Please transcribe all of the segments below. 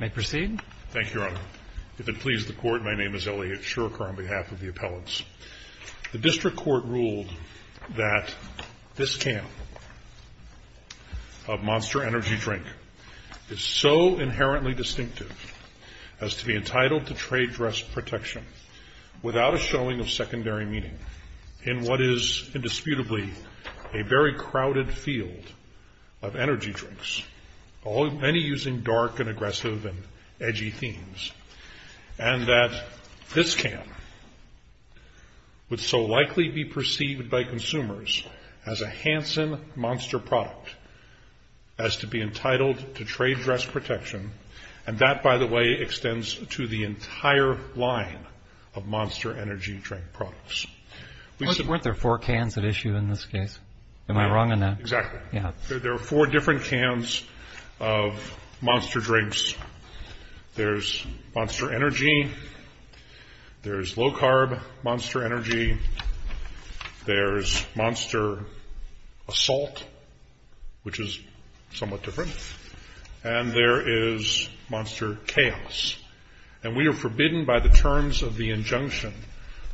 May I proceed? Thank you, Your Honor. If it pleases the Court, my name is Elliot Shurker on behalf of the appellants. The District Court ruled that this can of Monster Energy Drink is so inherently distinctive as to be entitled to trade dress protection without a showing of secondary meaning in what is indisputably a very crowded field of energy drinks, many using dark and aggressive and edgy themes, and that this can would so likely be perceived by consumers as a Hansen Monster product as to be entitled to trade dress protection, and that, by the way, extends to the entire line of Monster Energy Drink products. Weren't there four cans at issue in this case? Am I wrong on that? Exactly. There are four different cans of Monster Drinks. There's Monster Energy, there's low-carb Monster Energy, there's Monster Assault, which is somewhat different, and there is Monster Chaos. And we are forbidden by the terms of the injunction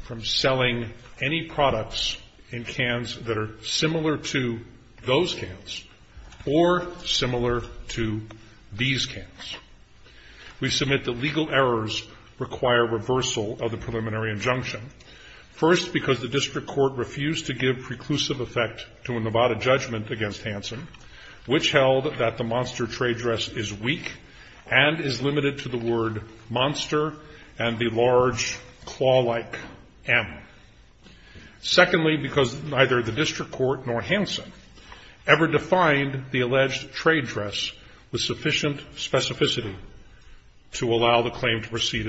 from selling any products in cans that are similar to those cans or similar to these cans. We submit that legal errors require reversal of the preliminary injunction. First, because the District Court refused to give preclusive effect to a Nevada judgment against Hansen, which held that the Monster trade dress is weak and is limited to the word monster and the large claw-like M. Secondly, because neither the District Court nor Hansen ever defined the alleged trade dress with in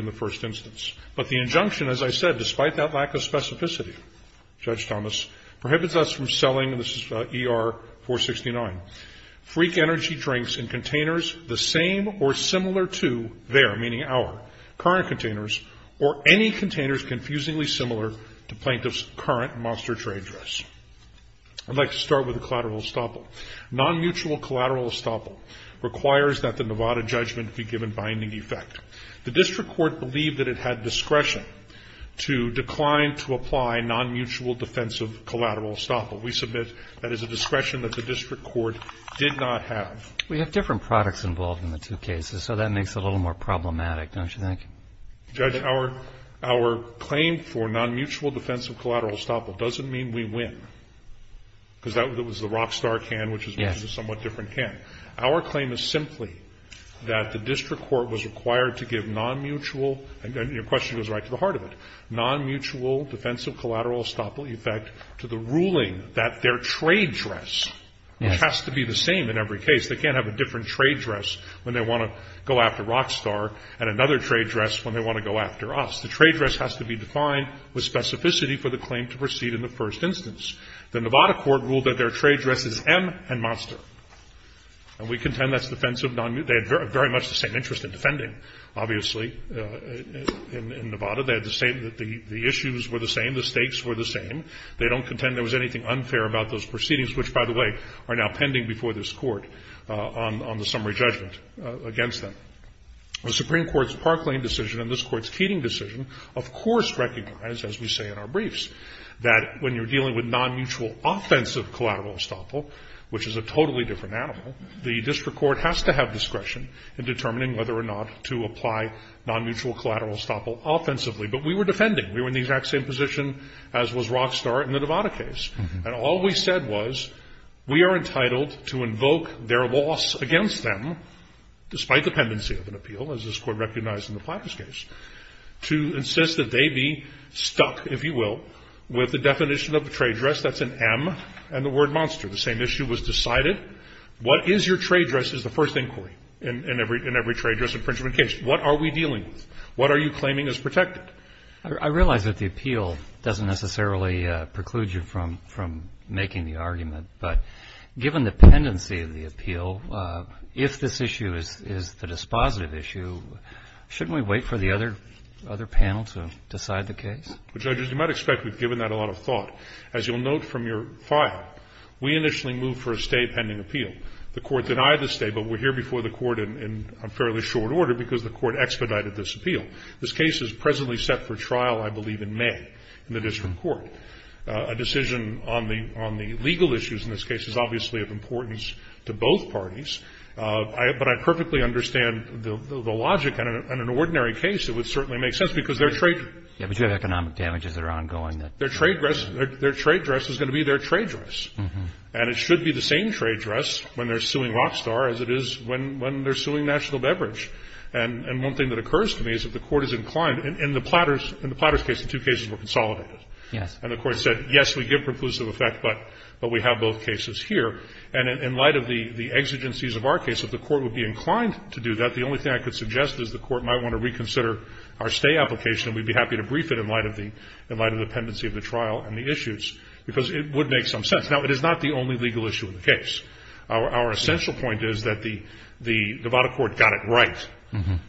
the first instance. But the injunction, as I said, despite that lack of specificity, Judge Thomas, prohibits us from selling, and this is about ER 469, freak energy drinks in containers the same or similar to their, meaning our, current containers or any containers confusingly similar to plaintiffs' current Monster trade dress. I'd like to start with the collateral estoppel. Non-mutual collateral estoppel requires that the Nevada judgment be given binding effect. The District Court believed that it had discretion to decline to apply non-mutual defensive collateral estoppel. We submit that is a discretion that the District Court did not have. We have different products involved in the two cases, so that makes it a little more problematic, don't you think? Judge, our claim for non-mutual defensive collateral estoppel doesn't mean we win, because it was the Rockstar can, which is a somewhat different can. Our claim is simply that the District Court was required to give non-mutual, and your question goes right to the heart of it, non-mutual defensive collateral estoppel effect to the ruling that their trade dress has to be the same in every case. They can't have a different trade dress when they want to go after Rockstar and another trade dress when they want to go after us. The trade dress has to be defined with specificity for the claim to proceed in the first instance. The Nevada court ruled that their trade dress is M and Monster. And we contend that's defensive non-mutual. They had very much the same interest in defending, obviously, in Nevada. They had the same – the issues were the same, the stakes were the same. They don't contend there was anything unfair about those proceedings, which, by the way, are now pending before this Court on the summary judgment against them. The Supreme Court's Parkland decision and this Court's Keating decision, of course, recognize, as we say in our briefs, that when you're dealing with non-mutual offensive collateral estoppel, which is a totally different animal, the district court has to have discretion in determining whether or not to apply non-mutual collateral estoppel offensively. But we were defending. We were in the exact same position as was Rockstar in the Nevada case. And all we said was, we are entitled to invoke their loss against them, despite dependency of an entity stuck, if you will, with the definition of the trade dress. That's an M and the word Monster. The same issue was decided. What is your trade dress is the first inquiry in every trade dress infringement case. What are we dealing with? What are you claiming is protected? I realize that the appeal doesn't necessarily preclude you from making the argument, but given the pendency of the appeal, if this issue is the dispositive issue, shouldn't we wait for the other panel to decide the case? Well, Judges, you might expect we've given that a lot of thought. As you'll note from your file, we initially moved for a stay pending appeal. The Court denied the stay, but we're here before the Court in fairly short order because the Court expedited this appeal. This case is presently set for trial, I believe, in May in the district court. A decision on the legal issues in this case is obviously of importance to both parties, but I perfectly understand the logic. And in an ordinary case, it would certainly make sense because their trade ---- But you have economic damages that are ongoing that ---- Their trade dress is going to be their trade dress. And it should be the same trade dress when they're suing Rockstar as it is when they're suing National Beverage. And one thing that occurs to me is that the Court is inclined, in the Platters case, the two cases were consolidated. Yes. And the Court said, yes, we give preclusive effect, but we have both cases here. And in light of the exigencies of our case, if the Court would be inclined to do that, the only thing I could suggest is the Court might want to reconsider our stay application, and we'd be happy to brief it in light of the ---- in light of the pendency of the trial and the issues, because it would make some sense. Now, it is not the only legal issue in the case. Our essential point is that the Nevada court got it right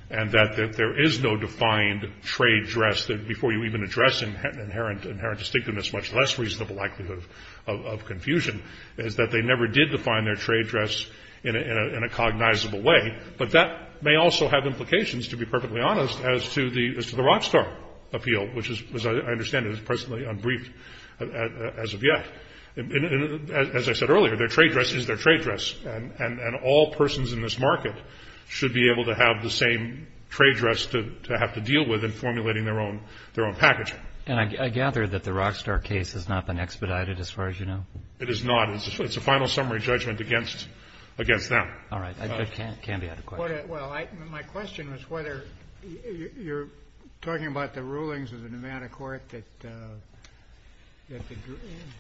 and that there is no defined trade dress that, before you even address inherent distinctiveness, much less reasonable likelihood of confusion, is that they never did define their trade dress in a cognizable way. But that may also have implications, to be perfectly honest, as to the Rockstar appeal, which is, as I understand it, is personally unbriefed as of yet. And as I said earlier, their trade dress is their trade dress. And all persons in this market should be able to have the same trade dress to have to deal with in formulating their own package. And I gather that the Rockstar case has not been expedited, as far as you know? It is not. It's a final summary judgment against them. All right. I can't be out of question. Well, my question was whether you're talking about the rulings of the Nevada court that the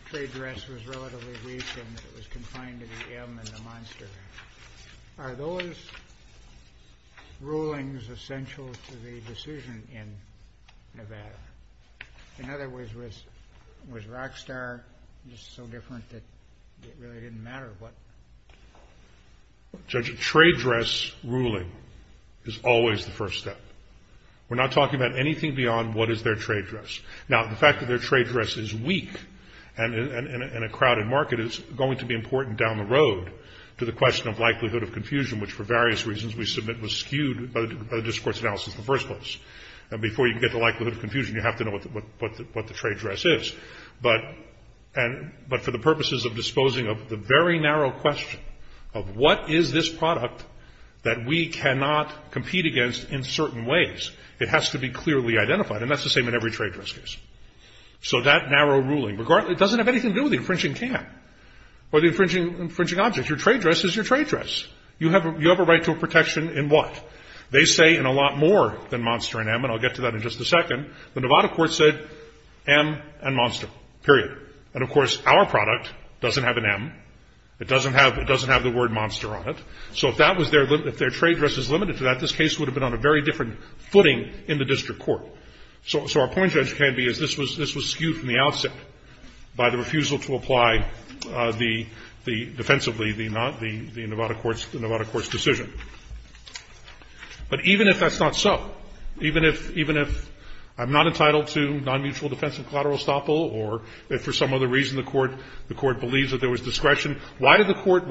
trade dress was relatively weak and it was confined to the M and the monster. Are those rulings essential to the decision in Nevada? In other words, was Rockstar just so different that it really didn't matter what? Judge, a trade dress ruling is always the first step. We're not talking about anything beyond what is their trade dress. Now, the fact that their trade dress is weak and in a crowded market is going to be down the road to the question of likelihood of confusion, which for various reasons we submit was skewed by the discourse analysis in the first place. And before you can get the likelihood of confusion, you have to know what the trade dress is. But for the purposes of disposing of the very narrow question of what is this product that we cannot compete against in certain ways, it has to be clearly identified. And that's the same in every trade dress case. So that narrow ruling doesn't have anything to do with the infringing camp or the infringing object. Your trade dress is your trade dress. You have a right to a protection in what? They say in a lot more than monster and M, and I'll get to that in just a second, the Nevada court said M and monster, period. And of course, our product doesn't have an M. It doesn't have the word monster on it. So if their trade dress is limited to that, this case would have been on a very different footing in the district court. So our point, Judge Canby, is this was skewed from the outset by the refusal to apply the defensively, the Nevada court's decision. But even if that's not so, even if I'm not entitled to nonmutual defense and collateral estoppel, or if for some other reason the court believes that there was discretion, why did the court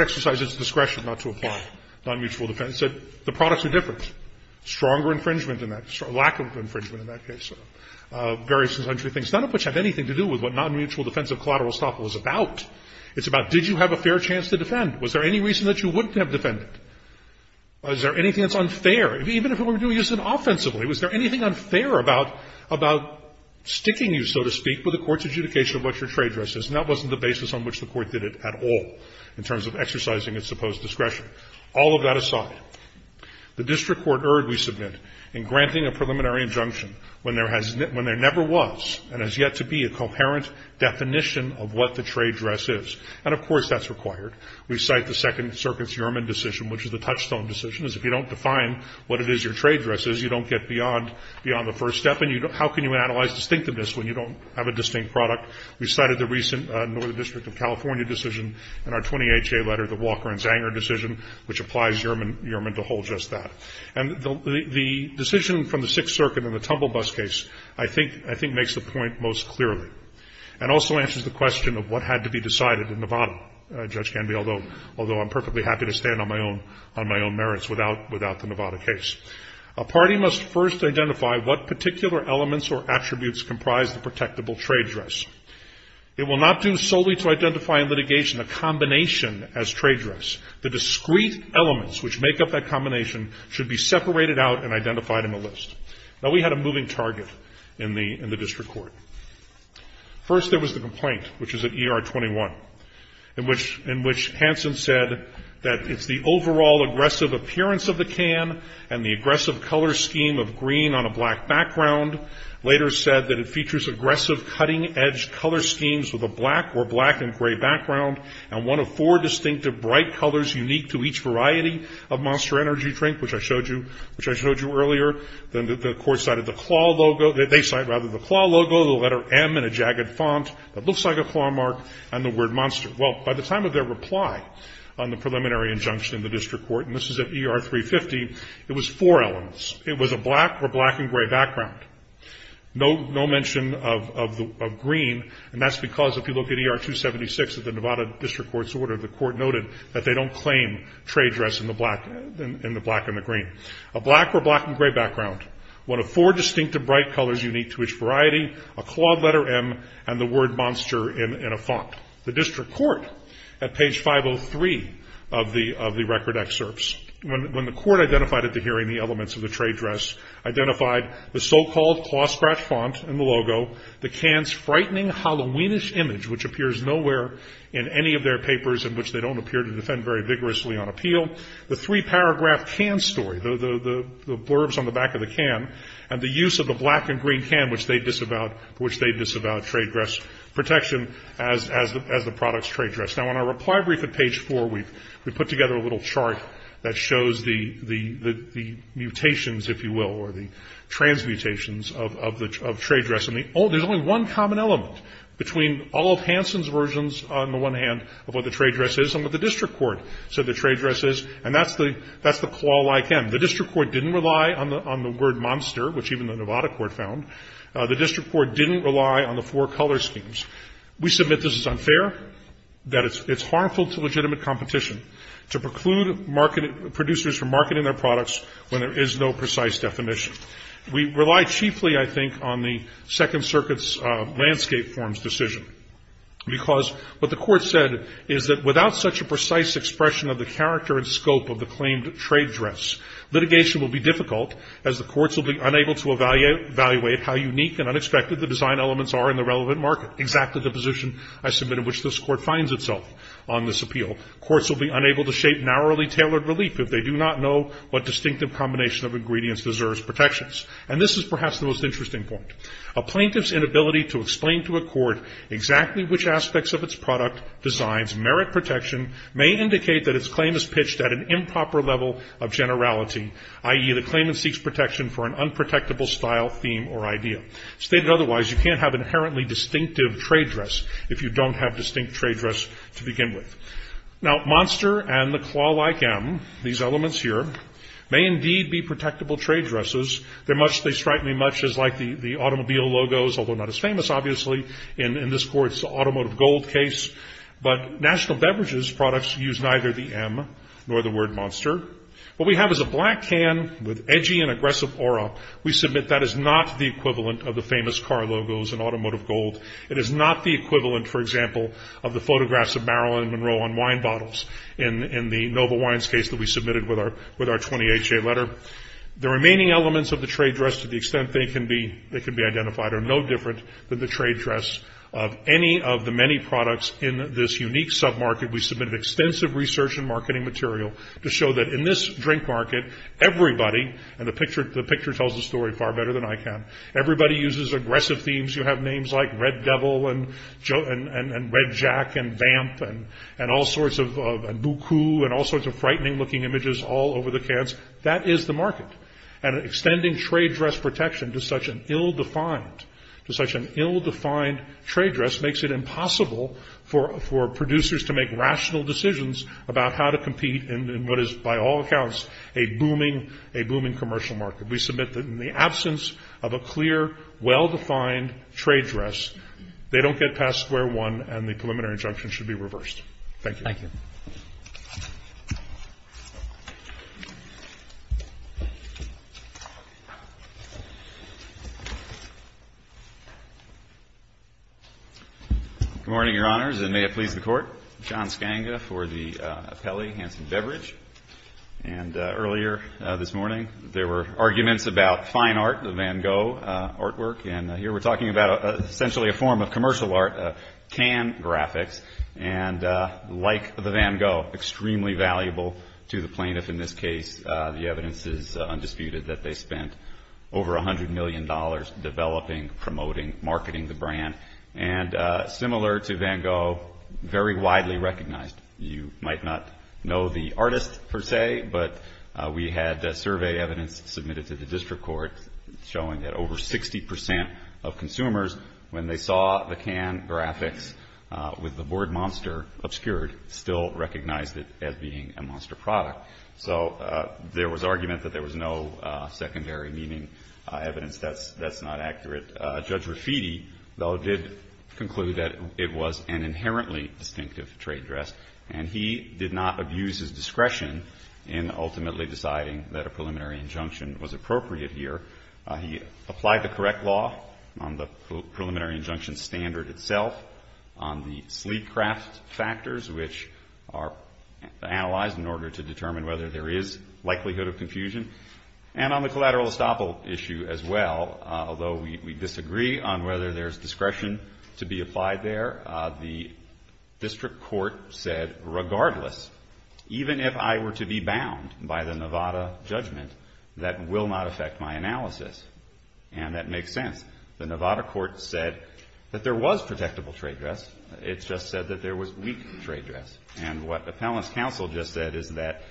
exercise its discretion not to apply nonmutual defense? It said the products are different. Stronger infringement in that, lack of infringement in that case. Various and untrue things, none of which have anything to do with what nonmutual defensive collateral estoppel is about. It's about, did you have a fair chance to defend? Was there any reason that you wouldn't have defended? Was there anything that's unfair? Even if it were used offensively, was there anything unfair about sticking you, so to speak, with the court's adjudication of what your trade dress is? And that wasn't the basis on which the court did it at all in terms of exercising its supposed discretion. All of that aside, the district court erred, we submit, in granting a preliminary injunction when there has never been, when there never was, and has yet to be a coherent definition of what the trade dress is. And, of course, that's required. We cite the Second Circuit's Uriman decision, which is a touchstone decision, as if you don't define what it is your trade dress is, you don't get beyond the first step. And how can you analyze distinctiveness when you don't have a distinct product? We cited the recent Northern District of California decision in our 20HA letter, the Walker and Zanger decision, which applies Uriman to hold just that. And the decision from the Sixth Circuit in the tumble bus case, I think, I think makes the point most clearly, and also answers the question of what had to be decided in Nevada, Judge Canby, although I'm perfectly happy to stand on my own merits without the Nevada case. A party must first identify what particular elements or attributes comprise the protectable trade dress. It will not do solely to identify in litigation a combination as trade dress. The discrete elements which make up that combination should be separated out and identified in the list. Now, we had a moving target in the district court. First, there was the complaint, which is at ER 21, in which Hansen said that it's the overall aggressive appearance of the can and the aggressive color scheme of the black or black and gray background, and one of four distinctive bright colors unique to each variety of Monster Energy Drink, which I showed you earlier. Then the court cited the claw logo, they cite rather the claw logo, the letter M in a jagged font that looks like a claw mark, and the word monster. Well, by the time of their reply on the preliminary injunction in the district court, and this is at ER 350, it was four elements. It was a black or black and gray background. No mention of green, and that's because if you look at ER 276 at the Nevada District Court's order, the court noted that they don't claim trade dress in the black and the green. A black or black and gray background, one of four distinctive bright colors unique to each variety, a clawed letter M, and the word monster in a font. The district court, at page 503 of the record excerpts, when the court identified it to hearing the elements of the trade dress, identified the so-called claw scratch font in the logo, the can's frightening Halloweenish image, which appears nowhere in any of their papers in which they don't appear to defend very vigorously on appeal, the three paragraph can story, the blurbs on the back of the can, and the use of the black and green can, which they disavowed trade dress protection as the product's trade dress. Now, on our reply brief at page four, we put together a little chart that shows the mutations, if you will, or the transmutations of trade dress. There's only one common element between all of Hansen's versions on the one hand of what the trade dress is and what the district court said the trade dress is, and that's the clawed like M. The district court didn't rely on the word monster, which even the Nevada court found. The district court didn't rely on the four color schemes. We submit this is unfair, that it's harmful to legitimate competition, to preclude producers from marketing their products when there is no precise definition. We rely chiefly, I think, on the Second Circuit's landscape forms decision, because what the court said is that without such a precise expression of the character and scope of the claimed trade dress, litigation will be difficult as the courts will be unable to evaluate how unique and unexpected the design elements are in the relevant market. Exactly the position I submitted, which this court finds itself on this appeal. Courts will be unable to shape narrowly tailored relief if they do not know what distinctive combination of ingredients deserves protections. And this is perhaps the most interesting point. A plaintiff's inability to explain to a court exactly which aspects of its product designs merit protection may indicate that its claim is pitched at an improper level of generality, i.e., the claimant seeks protection for an unprotectable style, theme, or idea. Stated otherwise, you can't have inherently distinctive trade dress if you don't have distinct trade dress to begin with. Now, Monster and the claw-like M, these elements here, may indeed be protectable trade dresses. They strike me much as like the automobile logos, although not as famous, obviously, in this court's automotive gold case. But national beverages products use neither the M nor the word Monster. What we have is a black can with edgy and aggressive aura. We submit that is not the equivalent of the famous car logos in automotive gold. It is not the equivalent, for example, of the photographs of Marilyn Monroe on wine bottles in the Nova Wines case that we submitted with our 20HA letter. The remaining elements of the trade dress, to the extent they can be identified, are no different than the trade dress of any of the many products in this unique sub-market. We submitted extensive research and marketing material to show that in this drink market, everybody, and the picture tells the story far better than I can, everybody uses aggressive themes. You have names like Red Devil, and Red Jack, and Vamp, and all sorts of, and Buku, and all sorts of frightening looking images all over the cans. That is the market. And extending trade dress protection to such an ill-defined trade dress in what is, by all accounts, a booming, a booming commercial market. We submit that in the absence of a clear, well-defined trade dress, they don't get past square one and the preliminary injunction should be reversed. Thank you. Thank you. Good morning, Your Honors, and may it please the Court. John Skanga for the Apelli Hanson Beverage, and earlier this morning, there were arguments about fine art, the Van Gogh artwork, and here we're talking about essentially a form of commercial art, can graphics, and like the Van Gogh, extremely valuable to the plaintiff in this case. The evidence is undisputed that they spent over $100 million developing, promoting, marketing the brand. And similar to Van Gogh, very widely recognized. You might not know the artist, per se, but we had survey evidence submitted to the district court showing that over 60% of consumers, when they saw the can graphics with the word monster obscured, still recognized it as being a monster product. So there was argument that there was no secondary meaning evidence. That's not accurate. Judge Raffiti, though, did conclude that it was an inherently distinctive trade dress, and he did not abuse his discretion in ultimately deciding that a preliminary injunction was appropriate here. He applied the correct law on the preliminary injunction standard itself, on the sleek craft factors, which are analyzed in order to determine whether there is likelihood of confusion, and on the collateral estoppel issue as well, although we disagree on whether there's discretion to be applied there. The district court said, regardless, even if I were to be bound by the Nevada judgment, that will not affect my analysis. And that makes sense. The Nevada court said that there was protectable trade dress. It just said that there was weak trade dress. And what appellant's counsel just said is that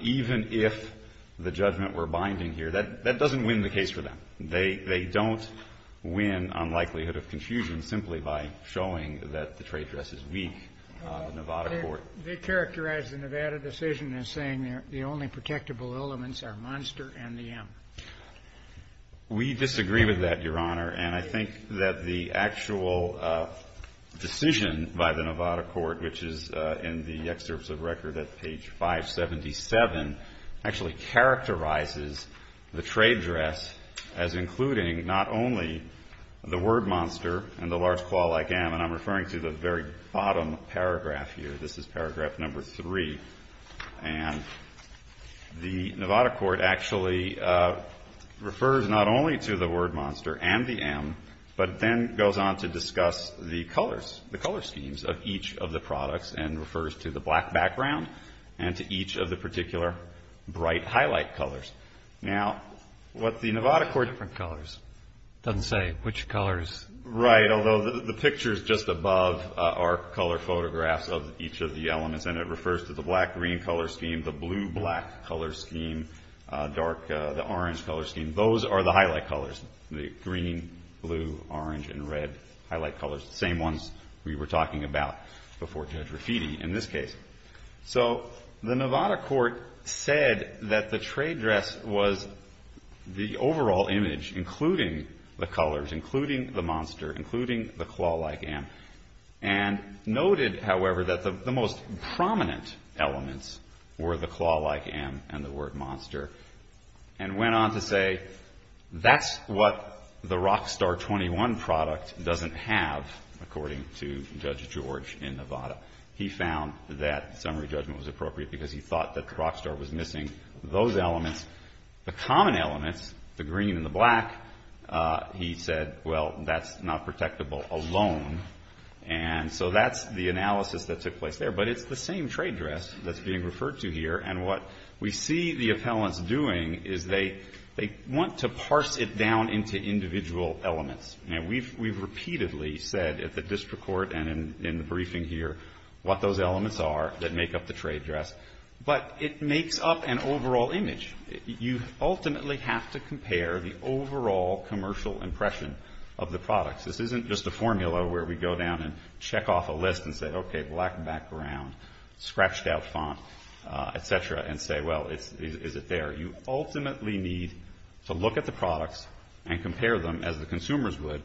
even if the judgment were binding here, that doesn't win the case for them. They don't win on likelihood of confusion simply by showing that the trade dress is weak, the Nevada court. They characterized the Nevada decision as saying the only protectable elements are Monster and the M. We disagree with that, Your Honor. And I think that the actual decision by the Nevada court, which is in the excerpts of record at page 577, actually characterizes the trade dress as including not only the word Monster and the large claw-like M, and I'm referring to the very bottom paragraph here. This is paragraph number three. And the Nevada court actually refers not only to the word Monster and the M, but then goes on to discuss the colors, the color schemes of each of the products and refers to the black background and to each of the particular bright highlight colors. Now, what the Nevada court- Different colors. Doesn't say which colors. Right, although the pictures just above are color photographs of each of the elements, and it refers to the black-green color scheme, the blue-black color scheme, dark, the orange color scheme. Those are the highlight colors, the green, blue, orange, and red highlight colors, the same ones we were talking about before Judge Rafiti. In this case, so the Nevada court said that the trade dress was the overall image, including the colors, including the Monster, including the claw-like M, and noted, however, that the most prominent elements were the claw-like M and the word Monster, and went on to say, that's what the Rockstar 21 product doesn't have, according to Judge George in Nevada. He found that summary judgment was appropriate because he thought that the Rockstar was missing those elements. The common elements, the green and the black, he said, well, that's not protectable alone, and so that's the analysis that took place there, but it's the same trade dress that's being referred to here, and what we see the appellants doing is they want to parse it down into individual elements. Now, we've repeatedly said at the district court and in the briefing here what those elements are that make up the trade dress, but it makes up an overall image. You ultimately have to compare the overall commercial impression of the products. This isn't just a formula where we go down and check off a list and say, okay, black background, scratched out font, et cetera, and say, well, is it there? You ultimately need to look at the products and compare them as the consumers would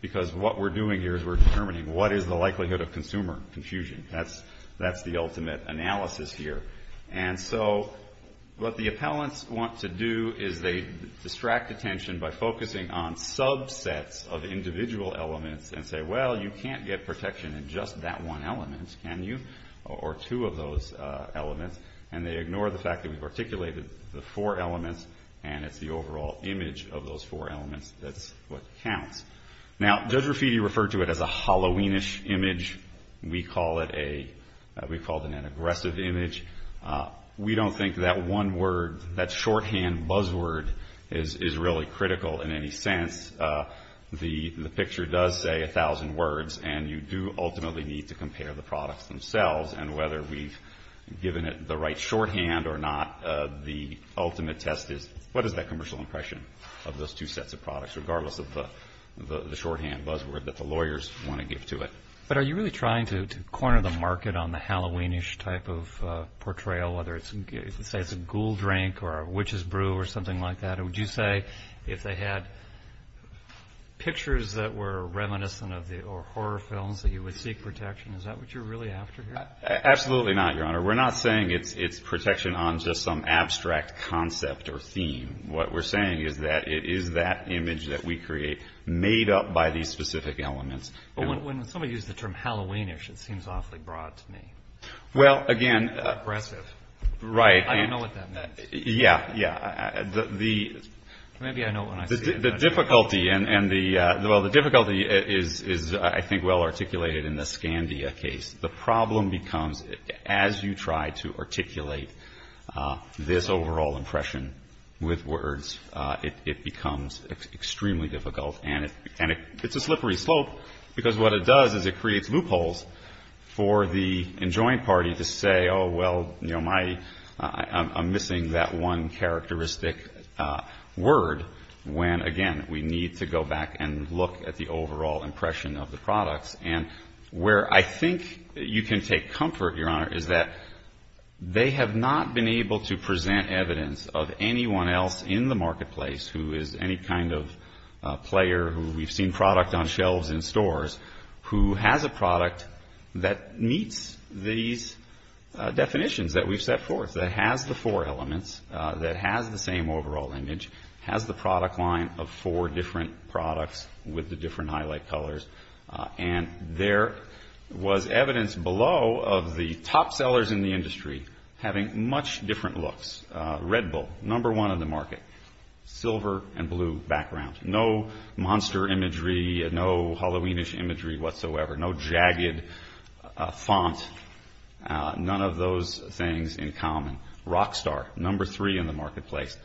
because what we're doing here is we're determining what is the likelihood of consumer confusion. That's the ultimate analysis here, and so what the appellants want to do is they distract attention by focusing on subsets of individual elements and say, well, you can't get protection in just that one element, can you, or two of those elements, and they ignore the fact that we've articulated the four elements, and it's the overall image of those four elements that's what counts. Now, Judge Raffitti referred to it as a Halloweenish image. We call it an aggressive image. We don't think that one word, that shorthand buzzword is really critical in any sense. The picture does say a thousand words, and you do ultimately need to compare the products themselves and whether we've given it the right shorthand or not. The ultimate test is what is that commercial impression of those two sets of products, regardless of the shorthand buzzword that the lawyers want to give to it. But are you really trying to corner the market on the Halloweenish type of portrayal, whether it's a ghoul drink or a witch's brew or something like that, or would you say if they had pictures that were reminiscent of the horror films that you would seek protection, is that what you're really after here? Absolutely not, Your Honor. We're not saying it's protection on just some abstract concept or theme. What we're saying is that it is that image that we create made up by these specific elements. When somebody used the term Halloweenish, it seems awfully broad to me. Well, again... Aggressive. Right. I don't know what that means. Yeah, yeah. The... Maybe I know when I see it. The difficulty, and the, well, the difficulty is, I think, well articulated in the Scandia case. The problem becomes, as you try to articulate this overall impression with words, it becomes extremely difficult. And it's a slippery slope, because what it does is it creates loopholes for the enjoying party to say, oh, well, you know, my, I'm missing that one characteristic word, when, again, we need to go back and look at the overall impression of the products. And where I think you can take comfort, Your Honor, is that they have not been able to present evidence of anyone else in the marketplace who is any kind of player, who we've seen product on shelves in stores, who has a product that meets these definitions that we've set forth, that has the four elements, that has the same overall image, has the product line of four different products with the different highlight colors. And there was evidence below of the top sellers in the industry having much different looks. Red Bull, number one in the market. Silver and blue background. No monster imagery, no Halloweenish imagery whatsoever. No jagged font. None of those things in common. Rockstar, number three in the marketplace.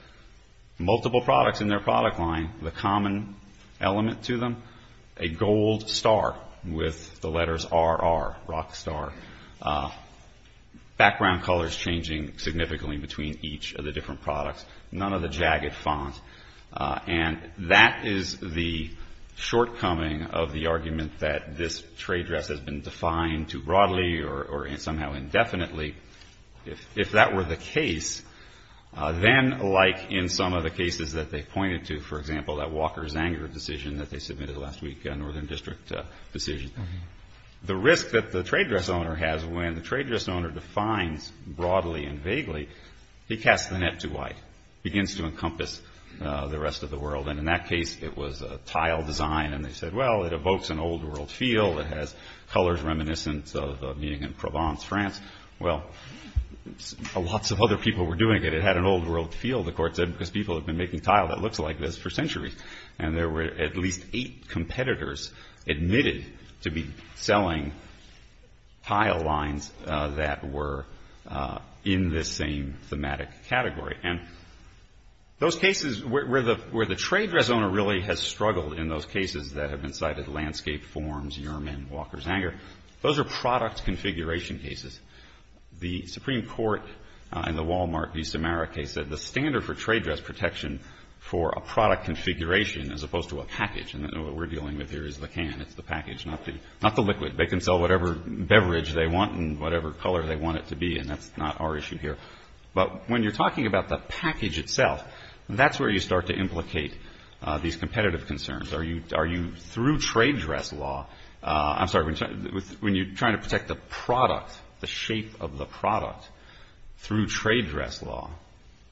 Multiple products in their product line. The common element to them, a gold star with the letters RR, Rockstar. Background colors changing significantly between each of the different products. None of the jagged font. And that is the shortcoming of the argument that this trade dress has been defined too broadly or somehow indefinitely. If that were the case, then like in some of the cases that they pointed to, for example, that Walker's Anger decision that they submitted last week, a Northern District decision, the risk that the trade dress owner has when the trade dress owner defines broadly and vaguely, he casts the net too wide. Begins to encompass the rest of the world. And in that case, it was a tile design. And they said, well, it evokes an old world feel. It has colors reminiscent of being in Provence, France. Well, lots of other people were doing it. It had an old world feel, the court said, because people have been making tile that looks like this for centuries. And there were at least eight competitors admitted to be selling tile lines that were in this same thematic category. And those cases where the trade dress owner really has struggled in those cases that have been cited, Landscape, Forms, Yearman, Walker's Anger, those are product configuration cases. The Supreme Court in the Walmart v. Samara case said the standard for trade dress protection for a product configuration as opposed to a package. And what we're dealing with here is the can. It's the package, not the liquid. They can sell whatever beverage they want and whatever color they want it to be. And that's not our issue here. But when you're talking about the package itself, that's where you start to implicate these competitive concerns. Are you, through trade dress law, I'm sorry, when you're trying to protect the product, the shape of the product, through trade dress law,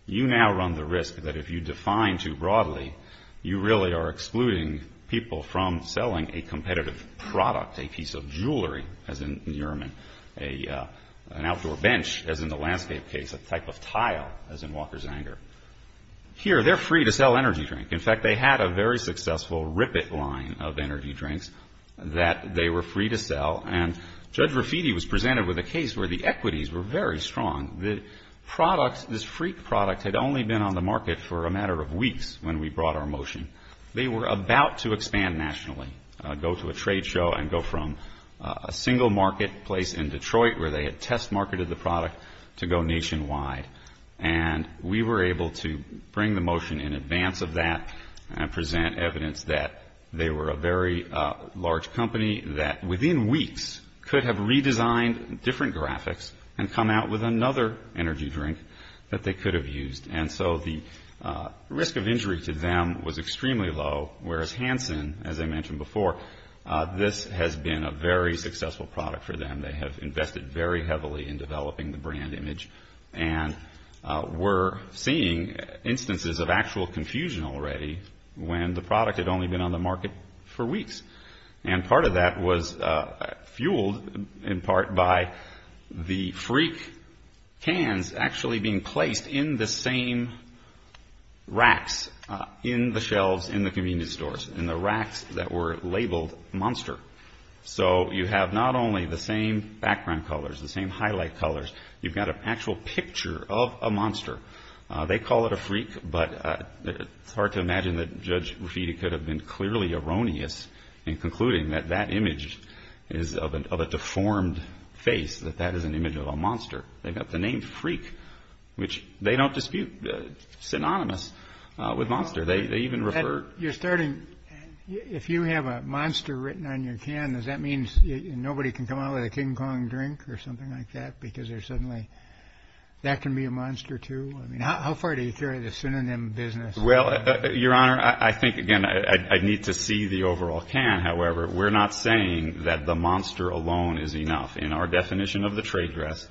you now run the risk that if you define too broadly, you really are excluding people from selling a competitive product, a piece of jewelry, as in Yearman, an outdoor bench, as in the Landscape case, a type of tile, as in Walker's Anger. Here, they're free to sell energy drink. In fact, they had a very successful Rippit line of energy drinks that they were free to sell. And Judge Rafiti was presented with a case where the equities were very strong. The product, this Freak product, had only been on the market for a matter of weeks when we brought our motion. They were about to expand nationally, go to a trade show and go from a single marketplace in Detroit where they had test marketed the product to go nationwide. And we were able to bring the motion in advance of that and present evidence that they were a very large company that, within weeks, could have redesigned different graphics and come out with another energy drink that they could have used. And so the risk of injury to them was extremely low, whereas Hansen, as I mentioned before, this has been a very successful product for them. They have invested very heavily in developing the brand image. And we're seeing instances of actual confusion already when the product had only been on the market for weeks. And part of that was fueled, in part, by the Freak cans actually being placed in the same racks in the shelves in the convenience stores, in the racks that were labeled Monster. So you have not only the same background colors, the same highlight colors, you've got an actual picture of a monster. They call it a Freak, but it's hard to imagine that Judge Raffiti could have been clearly erroneous in concluding that that image is of a deformed face, that that is an image of a monster. They've got the name Freak, which they don't dispute, synonymous with Monster. They even refer- You're starting, if you have a monster written on your can, does that mean nobody can come out with a King Kong drink or something like that? Because there's suddenly, that can be a monster, too? I mean, how far do you carry the synonym business? Well, Your Honor, I think, again, I need to see the overall can. However, we're not saying that the monster alone is enough. In our definition of the trade dress,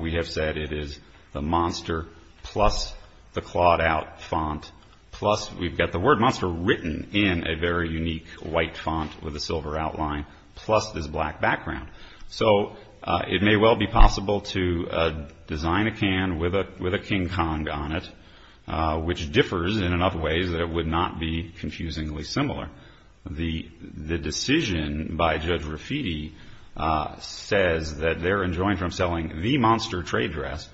we have said it is the monster plus the clawed out font, plus we've got the word monster written in a very unique white font with a silver outline, plus this black background. So it may well be possible to design a can with a King Kong on it, which differs in enough ways that it would not be confusingly similar. The decision by Judge Rafiti says that they're enjoined from selling the monster trade dress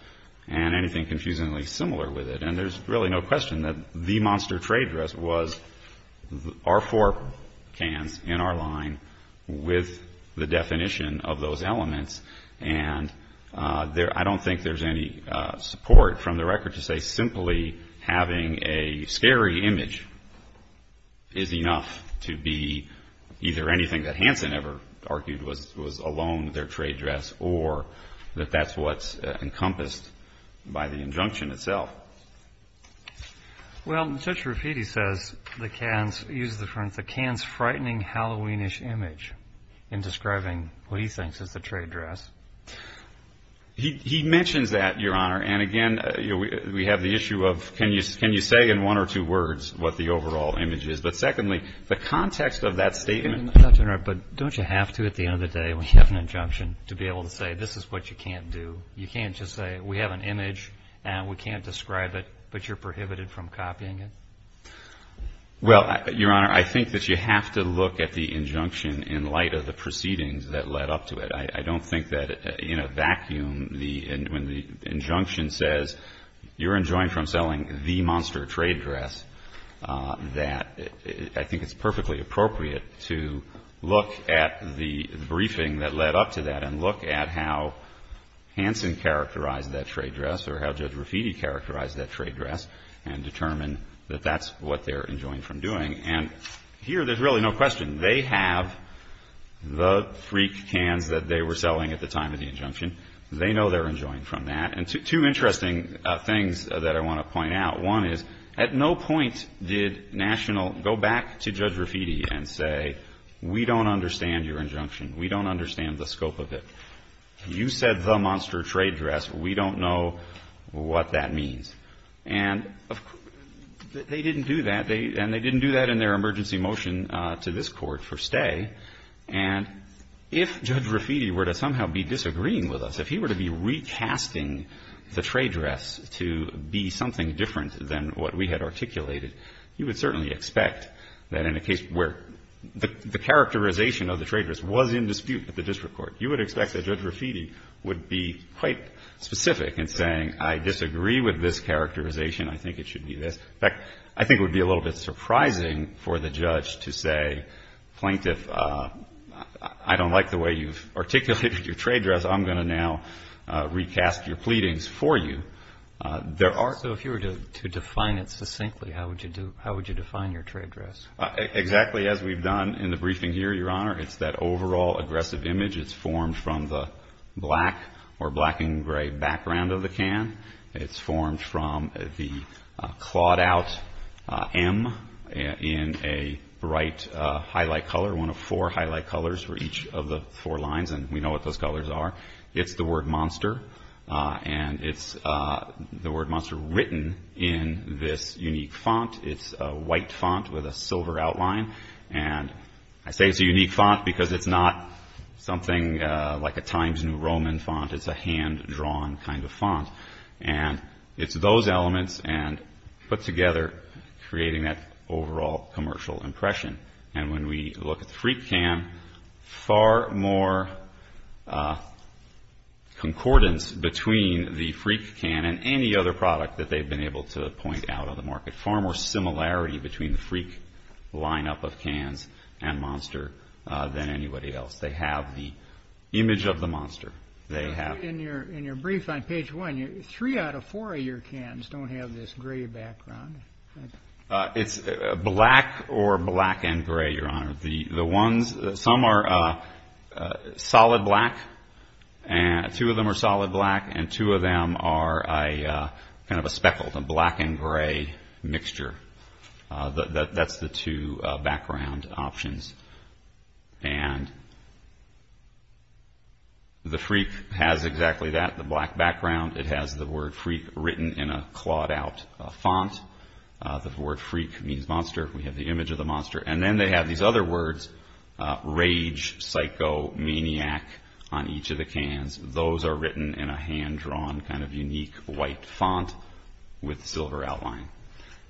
and anything confusingly similar with it. And there's really no question that the monster trade dress was our four cans in our line with the definition of those elements. And I don't think there's any support from the record to say simply having a scary image is enough to be either anything that Hanson ever argued was alone with their trade dress or that that's what's encompassed by the injunction itself. Well, Judge Rafiti says the cans, he uses the term, the cans frightening Halloweenish image in describing what he thinks is the trade dress. He mentions that, Your Honor, and again, we have the issue of can you say in one or two words what the overall image is. But secondly, the context of that statement. I'm not going to interrupt, but don't you have to at the end of the day when you have an injunction to be able to say this is what you can't do. You can't just say we have an image and we can't describe it, but you're prohibited from copying it. Well, Your Honor, I think that you have to look at the injunction in light of the proceedings that led up to it. I don't think that in a vacuum, when the injunction says you're enjoined from selling the monster trade dress, that I think it's perfectly appropriate to look at the briefing that led up to that. And look at how Hanson characterized that trade dress or how Judge Rafiti characterized that trade dress and determine that that's what they're enjoined from doing. And here, there's really no question. They have the freak cans that they were selling at the time of the injunction. They know they're enjoined from that. And two interesting things that I want to point out. One is, at no point did National go back to Judge Rafiti and say, we don't understand your injunction. We don't understand the scope of it. You said the monster trade dress. We don't know what that means. And they didn't do that. And they didn't do that in their emergency motion to this Court for stay. And if Judge Rafiti were to somehow be disagreeing with us, if he were to be recasting the trade dress to be something different than what we had articulated, you would certainly expect that in a case where the characterization of the trade dress was in dispute with the district court, you would expect that Judge Rafiti would be quite specific in saying, I disagree with this characterization. I think it should be this. In fact, I think it would be a little bit surprising for the judge to say, plaintiff, I don't like the way you've articulated your trade dress. I'm going to now recast your pleadings for you. So if you were to define it succinctly, how would you define your trade dress? Exactly as we've done in the briefing here, Your Honor. It's that overall aggressive image. It's formed from the black or black and gray background of the can. It's formed from the clawed out M in a bright highlight color, one of four highlight colors for each of the four lines. And we know what those colors are. It's the word monster. And it's the word monster written in this unique font. It's a white font with a silver outline. And I say it's a unique font because it's not something like a Times New Roman font. It's a hand-drawn kind of font. And it's those elements put together creating that overall commercial impression. And when we look at the Freak can, far more concordance between the Freak can and any other product that they've been able to point out on the market. Far more similarity between the Freak lineup of cans and monster than anybody else. They have the image of the monster. In your brief on page one, three out of four of your cans don't have this gray background. It's black or black and gray, Your Honor. The ones, some are solid black. Two of them are solid black. And two of them are kind of a speckled, a black and gray mixture. That's the two background options. And the Freak has exactly that, the black background. It has the word Freak written in a clawed out font. The word Freak means monster. We have the image of the monster. And then they have these other words, rage, psycho, maniac, on each of the cans. Those are written in a hand-drawn kind of unique white font with silver outline.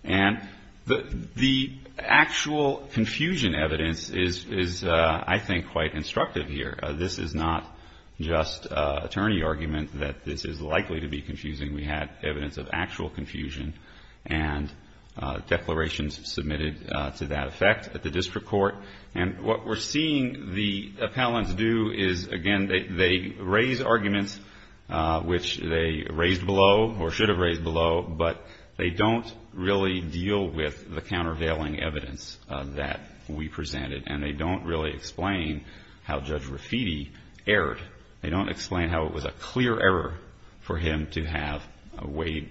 And the actual confusion evidence is, I think, quite instructive here. This is not just attorney argument that this is likely to be confusing. We had evidence of actual confusion and declarations submitted to that effect at the district court. And what we're seeing the appellants do is, again, they raise arguments which they raised below or should have raised below. But they don't really deal with the countervailing evidence that we presented. And they don't really explain how Judge Rafiti erred. They don't explain how it was a clear error for him to have weighed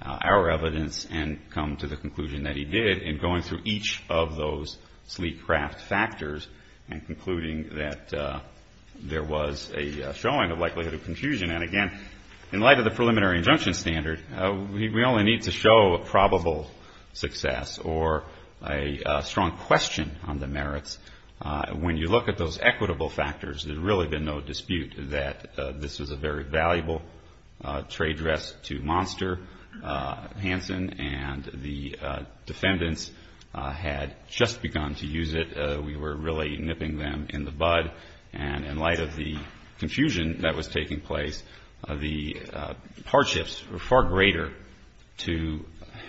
our evidence and come to the conclusion that he did in going through each of those sleek craft factors and concluding that there was a showing of likelihood of confusion. And, again, in light of the preliminary injunction standard, we only need to show probable success or a strong question on the merits. When you look at those equitable factors, there's really been no dispute that this was a very valuable trade dress to Monster Hanson. And the defendants had just begun to use it. We were really nipping them in the bud. And in light of the confusion that was taking place, the hardships were far greater to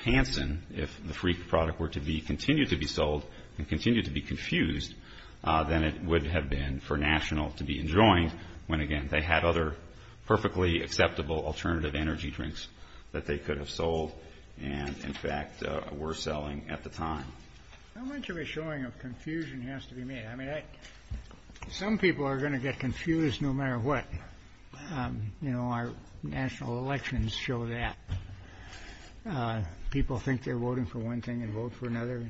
Hanson if the Freak product were to be continued to be sold and continued to be confused than it would have been for National to be enjoined when, again, they had other perfectly acceptable alternative energy drinks that they could have sold and, in fact, were selling at the time. How much of a showing of confusion has to be made? I mean, some people are going to get confused no matter what. You know, our national elections show that. People think they're voting for one thing and vote for another.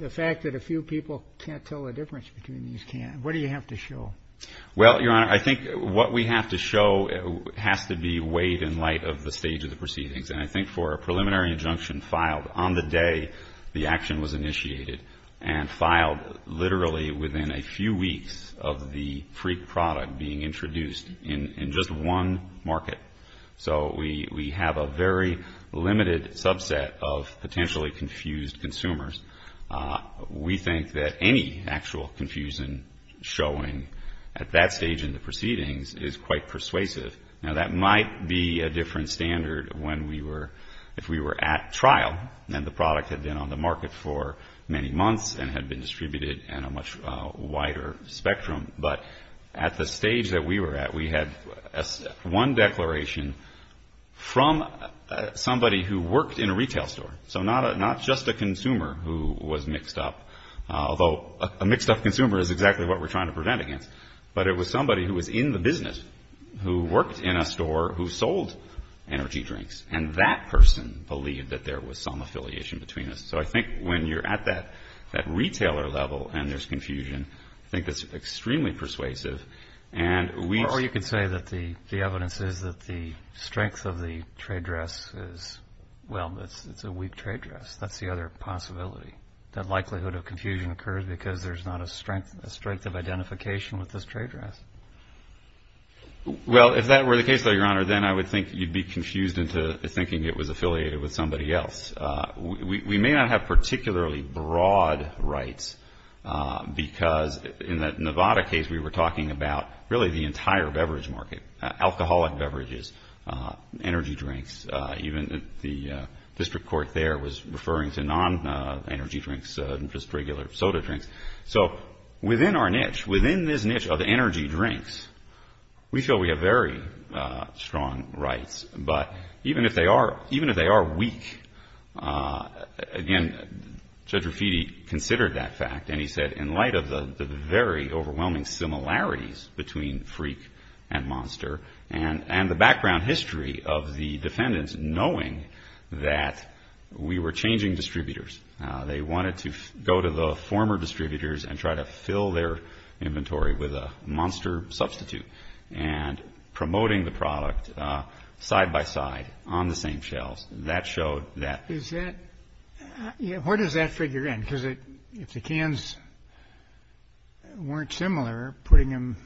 The fact that a few people can't tell the difference between these can't, what do you have to show? Well, Your Honor, I think what we have to show has to be weighed in light of the stage of the proceedings. And I think for a preliminary injunction filed on the day the action was initiated and filed literally within a few weeks of the Freak product being introduced in just one market. So we have a very limited subset of potentially confused consumers. We think that any actual confusion showing at that stage in the proceedings is quite persuasive. Now, that might be a different standard when we were, if we were at trial and the product had been on the market for many months and had been distributed in a much wider spectrum. But at the stage that we were at, we had one declaration from somebody who worked in a retail store. So not just a consumer who was mixed up, although a mixed up consumer is exactly what we're trying to prevent against. But it was somebody who was in the business, who worked in a store, who sold energy drinks. And that person believed that there was some affiliation between us. So I think when you're at that retailer level and there's confusion, I think that's extremely persuasive. And we... Or you could say that the evidence is that the strength of the trade dress is, well, it's a weak trade dress. That's the other possibility. That likelihood of confusion occurs because there's not a strength, a strength of identification with this trade dress. Well, if that were the case, though, Your Honor, then I would think you'd be confused into thinking it was affiliated with somebody else. We may not have particularly broad rights because in the Nevada case, we were talking about really the entire beverage market, alcoholic beverages, energy drinks. Even the district court there was referring to non-energy drinks, just regular soda drinks. So within our niche, within this niche of energy drinks, we feel we have very strong rights. But even if they are weak, again, Judge Raffitti considered that fact. And he said, in light of the very overwhelming similarities between Freak and Monster and the background history of the defendants knowing that we were changing distributors, they wanted to go to the former distributors and try to fill their inventory with a Monster substitute and promoting the product side by side on the same shelves. That showed that. Is that, yeah, where does that figure in? Because if the cans weren't similar, putting them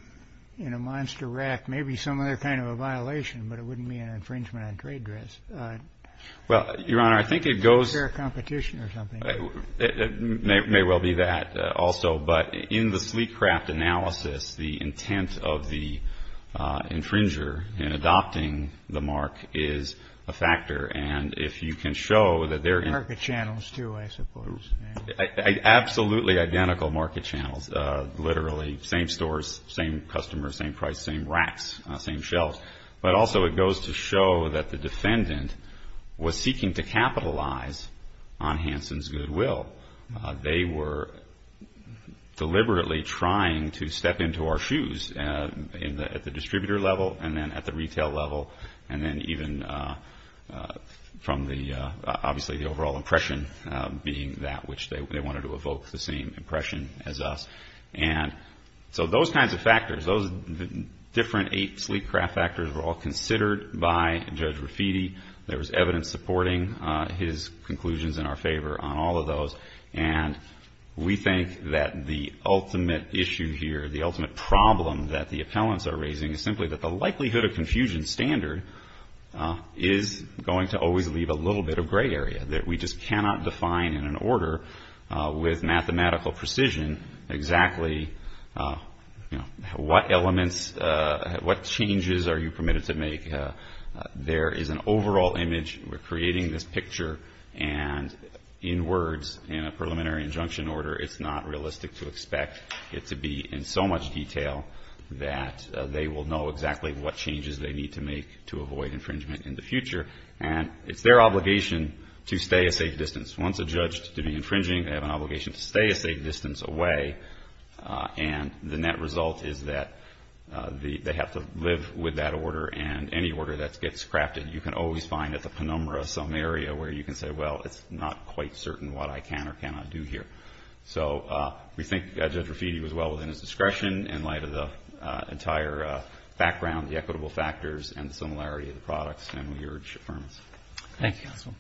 in a Monster rack may be some other kind of a violation, but it wouldn't be an infringement on trade dress. Well, Your Honor, I think it goes. Is there a competition or something? It may well be that also. But in the Sleecraft analysis, the intent of the infringer in adopting the mark is a factor. And if you can show that they're in. Market channels, too, I suppose. Absolutely identical market channels, literally same stores, same customers, same price, same racks, same shelves. But also it goes to show that the defendant was seeking to capitalize on Hansen's goodwill. They were deliberately trying to step into our shoes at the distributor level and then at the retail level. And then even from the, obviously, the overall impression being that which they wanted to evoke the same impression as us. And so those kinds of factors, those different eight Sleecraft factors were all considered by Judge Raffitti. There was evidence supporting his conclusions in our favor on all of those. And we think that the ultimate issue here, the ultimate problem that the appellants are raising, is simply that the likelihood of confusion standard is going to always leave a little bit of gray area, that we just cannot define in an order with mathematical precision exactly what elements, what changes are you permitted to make. There is an overall image, we're creating this picture, and in words, in a preliminary injunction order, it's not realistic to expect it to be in so much detail that they will know exactly what changes they need to make to avoid infringement in the future. And it's their obligation to stay a safe distance. Once a judge is to be infringing, they have an obligation to stay a safe distance away. And the net result is that they have to live with that order. And any order that gets crafted, you can always find at the penumbra some area where you can say, well, it's not quite certain what I can or cannot do here. So we think Judge Raffitti was well within his discretion in light of the entire background, the equitable factors, and the similarity of the products, and we urge affirmation. Thank you, counsel.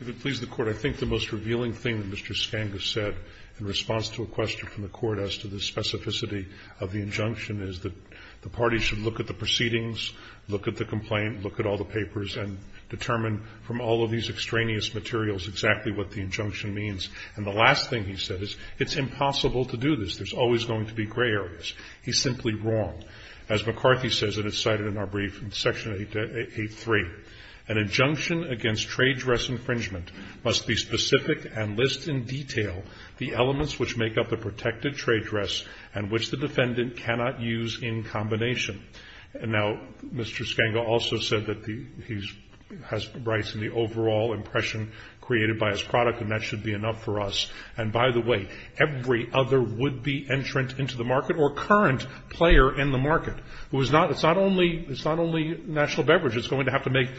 If it pleases the court, I think the most revealing thing that Mr. Skanga said in response to a question from the court as to the specificity of the injunction is that the party should look at the proceedings, look at the complaint, look at all the papers, and determine from all of these extraneous materials exactly what the injunction means. And the last thing he said is, it's impossible to do this. There's always going to be gray areas. He's simply wrong. As McCarthy says, and it's cited in our brief in Section 8.3, an injunction against trade dress infringement must be specific and list in detail the elements which make up the protected trade dress and which the defendant cannot use in combination. Now, Mr. Skanga also said that he has rights in the overall impression created by his product, and that should be enough for us. And by the way, every other would-be entrant into the market or current player in the market who is not, it's not only, it's not only national beverage that's going to have to make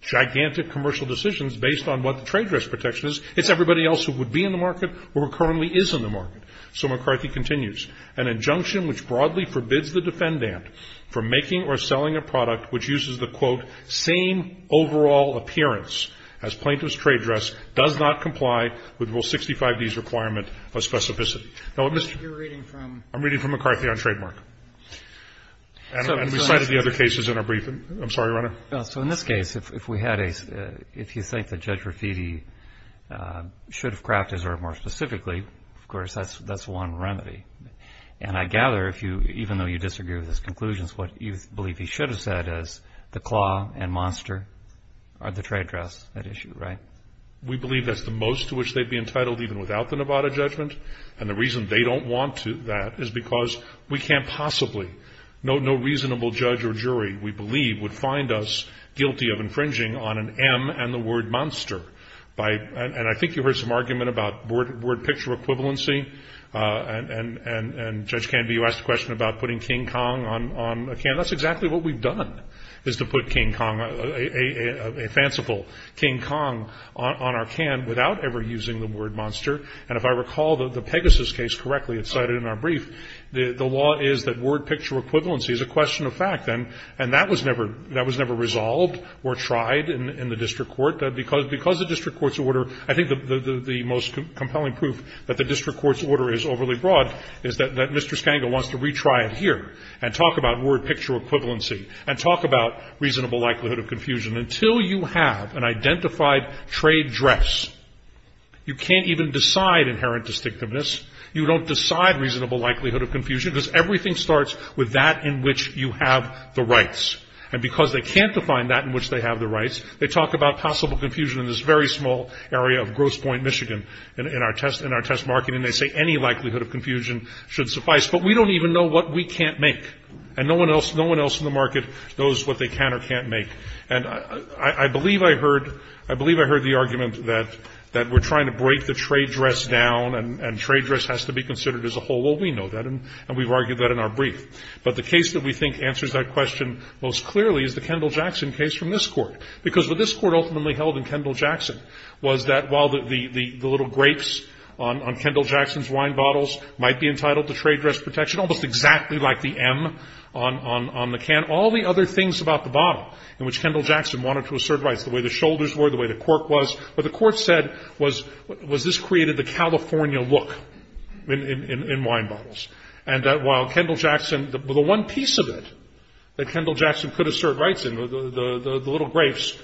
gigantic commercial decisions based on what the trade dress protection is, it's everybody else who would be in the market or who currently is in the market. So McCarthy continues, an injunction which broadly forbids the defendant from making or selling a product which uses the, quote, same overall appearance as plaintiff's trade dress, does not comply with Rule 65D's requirement of specificity. Now, what Mr. You're reading from I'm reading from McCarthy on trademark, and we cited the other cases in our briefing. I'm sorry, Renner. No, so in this case, if we had a, if you think that Judge Raffiti should have crafted more specifically, of course, that's one remedy. And I gather if you, even though you disagree with his conclusions, what you believe he should have said is the claw and monster are the trade dress at issue, right? We believe that's the most to which they'd be entitled even without the Nevada judgment. And the reason they don't want to that is because we can't possibly, no, no reasonable judge or jury we believe would find us guilty of infringing on an M and the word monster. By, and I think you heard some argument about word picture equivalency, and Judge Canby, you asked a question about putting King Kong on a can. That's exactly what we've done, is to put King Kong, a fanciful King Kong on our can without ever using the word monster. And if I recall the Pegasus case correctly, it's cited in our brief, the law is that word picture equivalency is a question of fact. And, and that was never, that was never resolved or tried in the district court. That because, because the district court's order, I think the most compelling proof that the district court's order is overly broad is that Mr. Scangle wants to retry it here and talk about word picture equivalency and talk about reasonable likelihood of confusion. Until you have an identified trade dress, you can't even decide inherent distinctiveness. You don't decide reasonable likelihood of confusion because everything starts with that in which you have the rights. And because they can't define that in which they have the rights, they talk about possible confusion in this very small area of Gross Point, Michigan, in our test, in our test market. And they say any likelihood of confusion should suffice. But we don't even know what we can't make. And no one else, no one else in the market knows what they can or can't make. And I believe I heard, I believe I heard the argument that, that we're trying to break the trade dress down and, and trade dress has to be considered as a whole. Well, we know that and, and we've argued that in our brief. But the case that we think answers that question most clearly is the Kendall-Jackson case from this Court. Because what this Court ultimately held in Kendall-Jackson was that while the, the, the little grapes on, on Kendall-Jackson's wine bottles might be entitled to trade dress protection, almost exactly like the M on, on, on the can. All the other things about the bottle in which Kendall-Jackson wanted to assert rights, the way the shoulders were, the way the cork was. What the Court said was, was this created the California look in, in, in, in wine bottles. And that while Kendall-Jackson, the, the one piece of it that Kendall-Jackson could assert rights in, the, the, the, the little grapes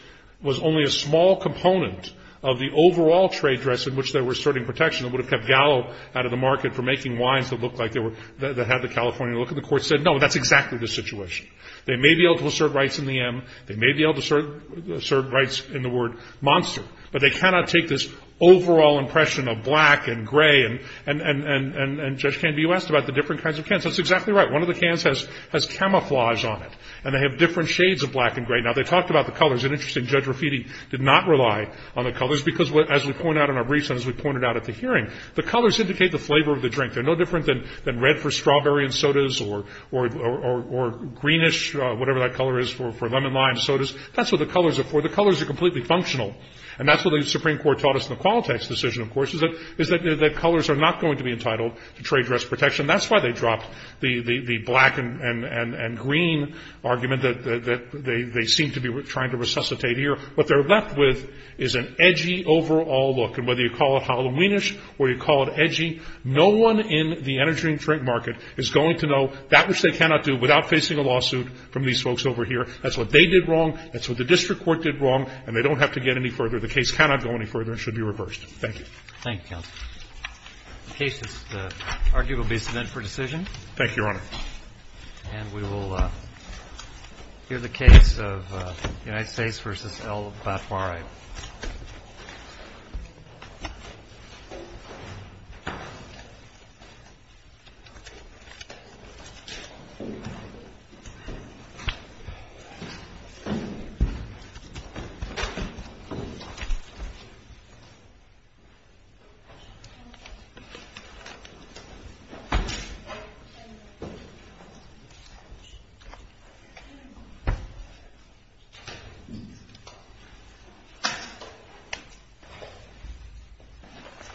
was only a small component of the overall trade dress in which they were asserting protection. It would have kept Gallo out of the market for making wines that looked like they were, that, that had the California look. And the Court said, no, that's exactly the situation. They may be able to assert rights in the M. They may be able to assert, assert rights in the word monster. But they cannot take this overall impression of black and gray and, and, and, and, and Judge Canby, you asked about the different kinds of cans. That's exactly right. One of the cans has, has camouflage on it. And they have different shades of black and gray. Now, they talked about the colors. It's interesting, Judge Rafiti did not rely on the colors because what, as we point out in our briefs and as we pointed out at the hearing, the colors indicate the flavor of the drink. They're no different than, than red for strawberry and sodas or, or, or, or greenish, whatever that color is for, for lemon lime sodas. That's what the colors are for. The colors are completely functional. And that's what the Supreme Court taught us in the Qualitex decision, of course, is that, is that, that colors are not going to be entitled to trade dress protection. That's why they dropped the, the, the black and, and, and, and green argument that, that, that they, they seem to be trying to resuscitate here. What they're left with is an edgy overall look. And whether you call it Halloweenish or you call it edgy, no one in the energy and drink market is going to know that which they cannot do without facing a lawsuit from these folks over here. That's what they did wrong. That's what the district court did wrong. And they don't have to get any further. The case cannot go any further and should be reversed. Thank you. Thank you, Counselor. The case is, the argument will be sent for decision. Thank you, Your Honor. And we will hear the case of United States v. L. Batwari. All right.